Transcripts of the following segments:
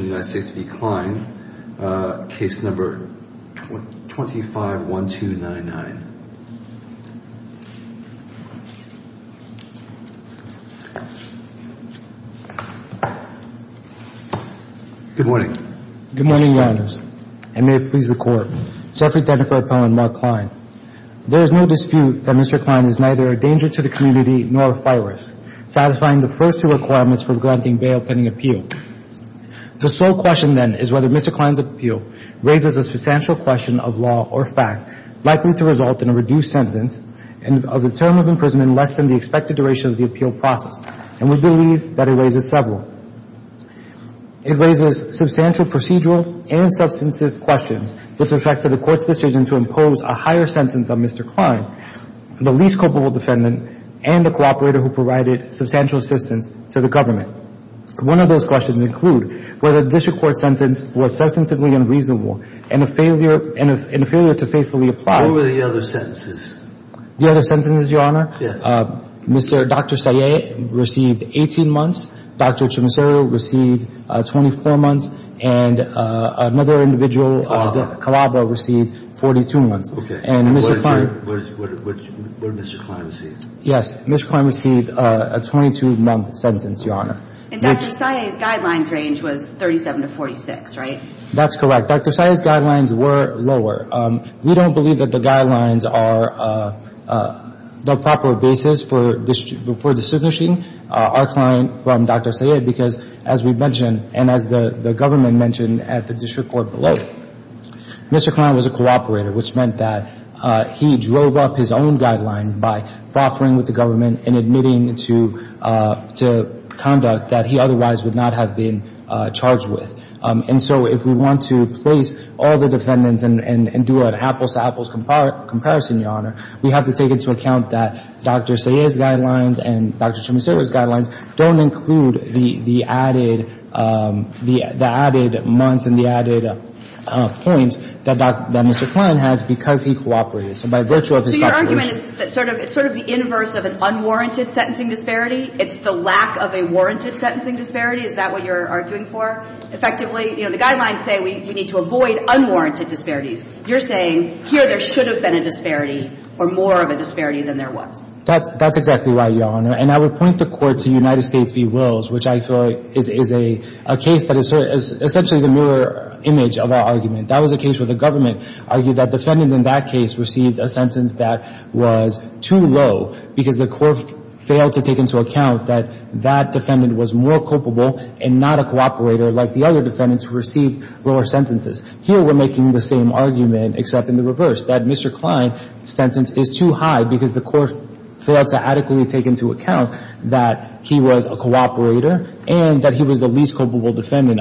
case number 251299. Good morning. Good morning, Your Honors. And may it please the Court. Jeffrey D'Antonio Pellin, Mark Klein. There is no dispute that Mr. Klein is neither a danger to the community nor a virus, satisfying the first two requirements for granting bail pending appeal. The sole question, then, is whether Mr. Klein's appeal raises a substantial question of law or fact likely to result in a reduced sentence and a term of imprisonment less than the expected duration of the appeal process. And we believe that it raises several. It raises substantial procedural and substantive questions with respect to the Court's decision to impose a higher sentence on Mr. Klein, the least culpable defendant, and the cooperator who provided substantial assistance to the government. One of those questions include whether this Court's sentence was substantively unreasonable and a failure to faithfully apply. What were the other sentences? The other sentences, Your Honor? Yes. Dr. Sayeh received 18 months. Dr. Chimisero received 24 months. And another individual, Calabro, received 42 months. Okay. And what did Mr. Klein receive? Yes. Mr. Klein received a 22-month sentence, Your Honor. And Dr. Sayeh's guidelines range was 37 to 46, right? That's correct. Dr. Sayeh's guidelines were lower. We don't believe that the guidelines are the proper basis for distinguishing our client from Dr. Sayeh because, as we mentioned, and as the government mentioned at the district court below, Mr. Klein was a cooperator, which meant that he drove up his own guidelines by proffering with the government and admitting to conduct that he otherwise would not have been charged with. And so if we want to place all the defendants and do an apples-to-apples comparison, Your Honor, we have to take into account that Dr. Sayeh's guidelines and Dr. Chimisero's guidelines don't include the added months and the added points that Mr. Klein has because he cooperated. So by virtue of his cooperation... So your argument is that it's sort of the inverse of an unwarranted sentencing disparity? It's the lack of a warranted sentencing disparity? Is that what you're arguing for, effectively? You know, the guidelines say we need to avoid unwarranted disparities. You're saying here there should have been a disparity or more of a disparity than there was. That's exactly right, Your Honor. And I would point the court to United States v. Wills, which I feel is a case that is essentially the mirror image of our argument. That was a case where the government argued that defendant in that case received a sentence that was too low because the court failed to take into account that that defendant was more culpable and not a cooperator like the other defendants who received lower sentences. Here we're making the same argument except in the reverse, that Mr. Klein's sentence is too high because the court failed to adequately take into account that he was a cooperator and that he was the least culpable defendant,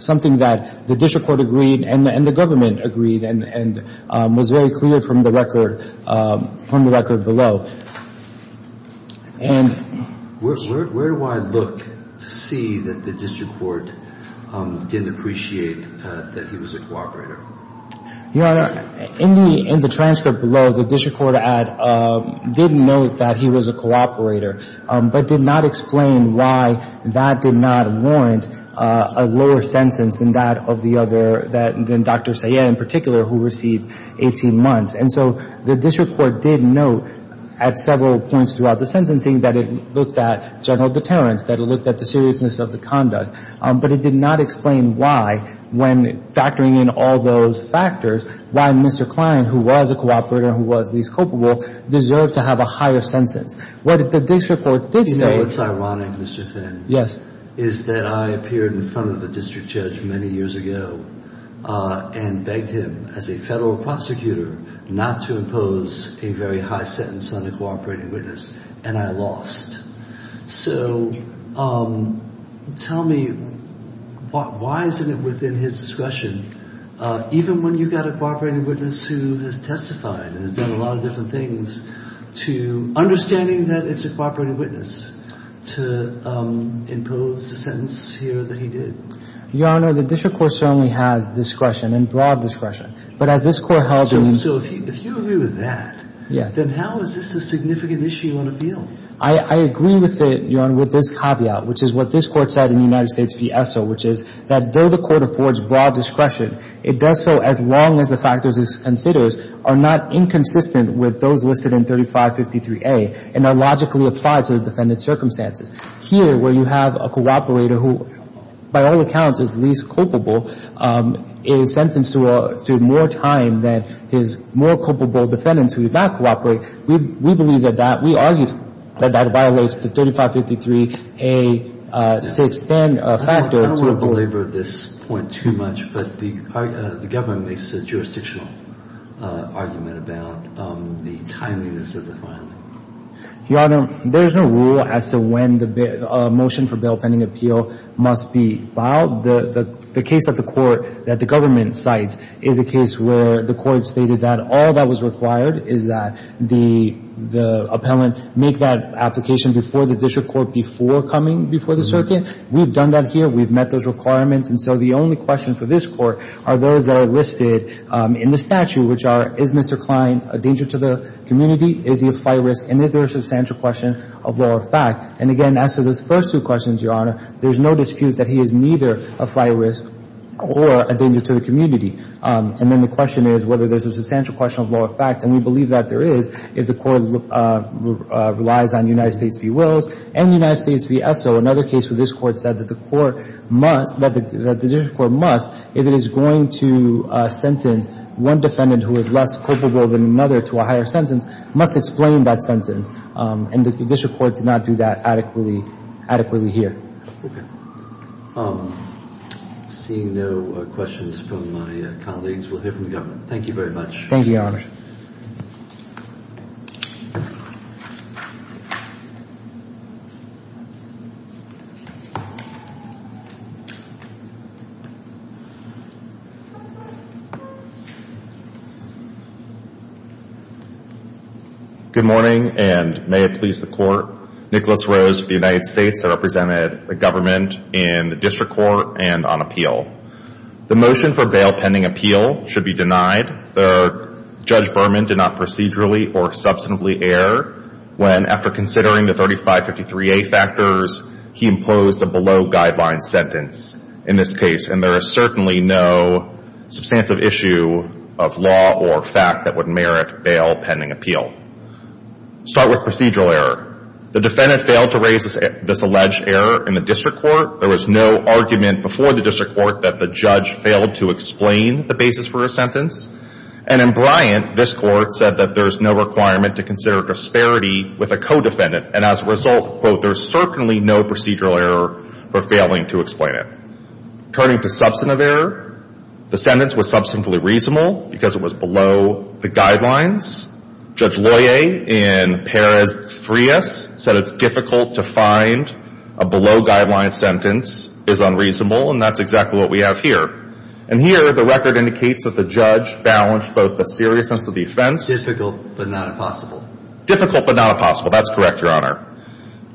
something that the district court agreed and the government agreed and was very clear from the record below. Where do I look to see that the district court didn't appreciate that he was a cooperator? Your Honor, in the transcript below, the district court did note that he was a cooperator but did not explain why that did not warrant a lower sentence than that of the other, than Dr. Sayed in particular, who received 18 months. And so the district court did note at several points throughout the sentencing that it looked at general deterrence, that it looked at the seriousness of the conduct. But it did not explain why, when factoring in all those factors, why Mr. Klein, who was a cooperator and who was least culpable, deserved to have a higher sentence. What the district court did say... You know what's ironic, Mr. Finn? Yes. Is that I appeared in front of the district judge many years ago and begged him as a federal prosecutor not to impose a very high sentence on the cooperating witness, and I lost. So tell me, why isn't it within his discretion, even when you've got a cooperating witness who has testified and has done a lot of different things, to understanding that it's a cooperating witness to impose the sentence here that he did? Your Honor, the district court certainly has discretion and broad discretion. But as this court held... So if you agree with that, then how is this a significant issue on appeal? I agree with it, Your Honor, with this caveat, which is what this court said in the United States v. ESSO, which is that though the court affords broad discretion, it does so as long as the factors it considers are not inconsistent with those listed in 3553A and are logically applied to the defendant's circumstances. Here, where you have a cooperator who, by all accounts, is least culpable, is sentenced to more time than his more culpable defendants who did not cooperate, we believe that that, we argue that that violates the 3553A6-10 factor. I don't want to belabor this point too much, but the government makes a jurisdictional argument about the timeliness of the filing. Your Honor, there is no rule as to when a motion for bail pending appeal must be filed. The case at the court that the government cites is a case where the court stated that all that was required is that the appellant make that application before the district court, before coming before the circuit. We've done that here. We've met those requirements. And so the only question for this court are those that are listed in the statute, which are is Mr. Klein a danger to the community? Is he a fly risk? And is there a substantial question of law or fact? And again, as to those first two questions, Your Honor, there's no dispute that he is neither a fly risk or a danger to the community. And then the question is whether there's a substantial question of law or fact. And we believe that there is if the court relies on United States v. Wills and United States v. ESSO. Another case where this court said that the court must, that the district court must, if it is going to sentence one defendant who is less culpable than another to a higher sentence, must explain that sentence. And the district court did not do that adequately here. Okay. Seeing no questions from my colleagues, we'll hear from the government. Thank you very much. Thank you, Your Honor. Good morning, and may it please the Court. Nicholas Rose of the United States. I represented the government in the district court and on appeal. The motion for bail pending appeal should be denied. Judge Berman did not procedurally or substantively err when, after considering the 3553A factors, he imposed a below-guideline sentence in this case. And there is certainly no substantive issue of law or fact that would merit bail pending appeal. Start with procedural error. The defendant failed to raise this alleged error in the district court. There was no argument before the district court that the judge failed to explain the basis for a sentence. And in Bryant, this court said that there is no requirement to consider disparity with a co-defendant. And as a result, quote, there is certainly no procedural error for failing to explain it. Turning to substantive error, the sentence was substantively reasonable because it was below the guidelines. Judge Loyer in Perez-Frias said it's difficult to find a below-guideline sentence is unreasonable, and that's exactly what we have here. And here, the record indicates that the judge balanced both the seriousness of the offense. Difficult but not impossible. Difficult but not impossible. That's correct, Your Honor.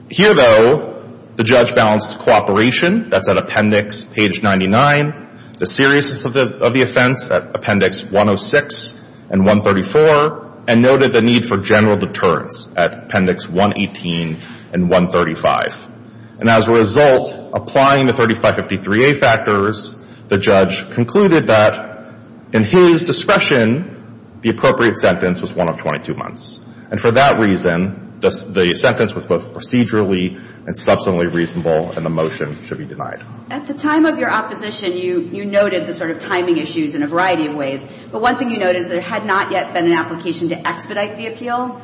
Here, though, the judge balanced cooperation. That's at appendix page 99, the seriousness of the offense at appendix 106 and 134, and noted the need for general deterrence at appendix 118 and 135. And as a result, applying the 3553A factors, the judge concluded that in his discretion, the appropriate sentence was one of 22 months. And for that reason, the sentence was both procedurally and substantively reasonable, and the motion should be denied. At the time of your opposition, you noted the sort of timing issues in a variety of ways. But one thing you noted is there had not yet been an application to expedite the appeal.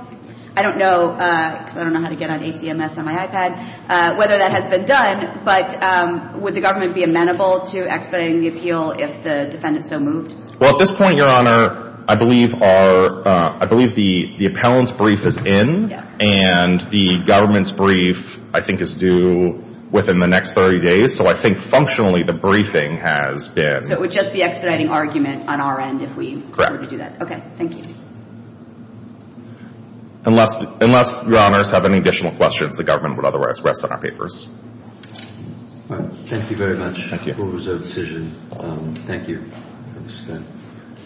I don't know, because I don't know how to get on ACMS on my iPad, whether that has been done. But would the government be amenable to expediting the appeal if the defendant so moved? Well, at this point, Your Honor, I believe our – I believe the appellant's brief is in. Yeah. And the government's brief, I think, is due within the next 30 days. So I think, functionally, the briefing has been. So it would just be expediting argument on our end if we were to do that. Okay. Thank you. Unless Your Honors have any additional questions, the government would otherwise rest on our papers. Thank you very much. Thank you. It was a decision. Thank you.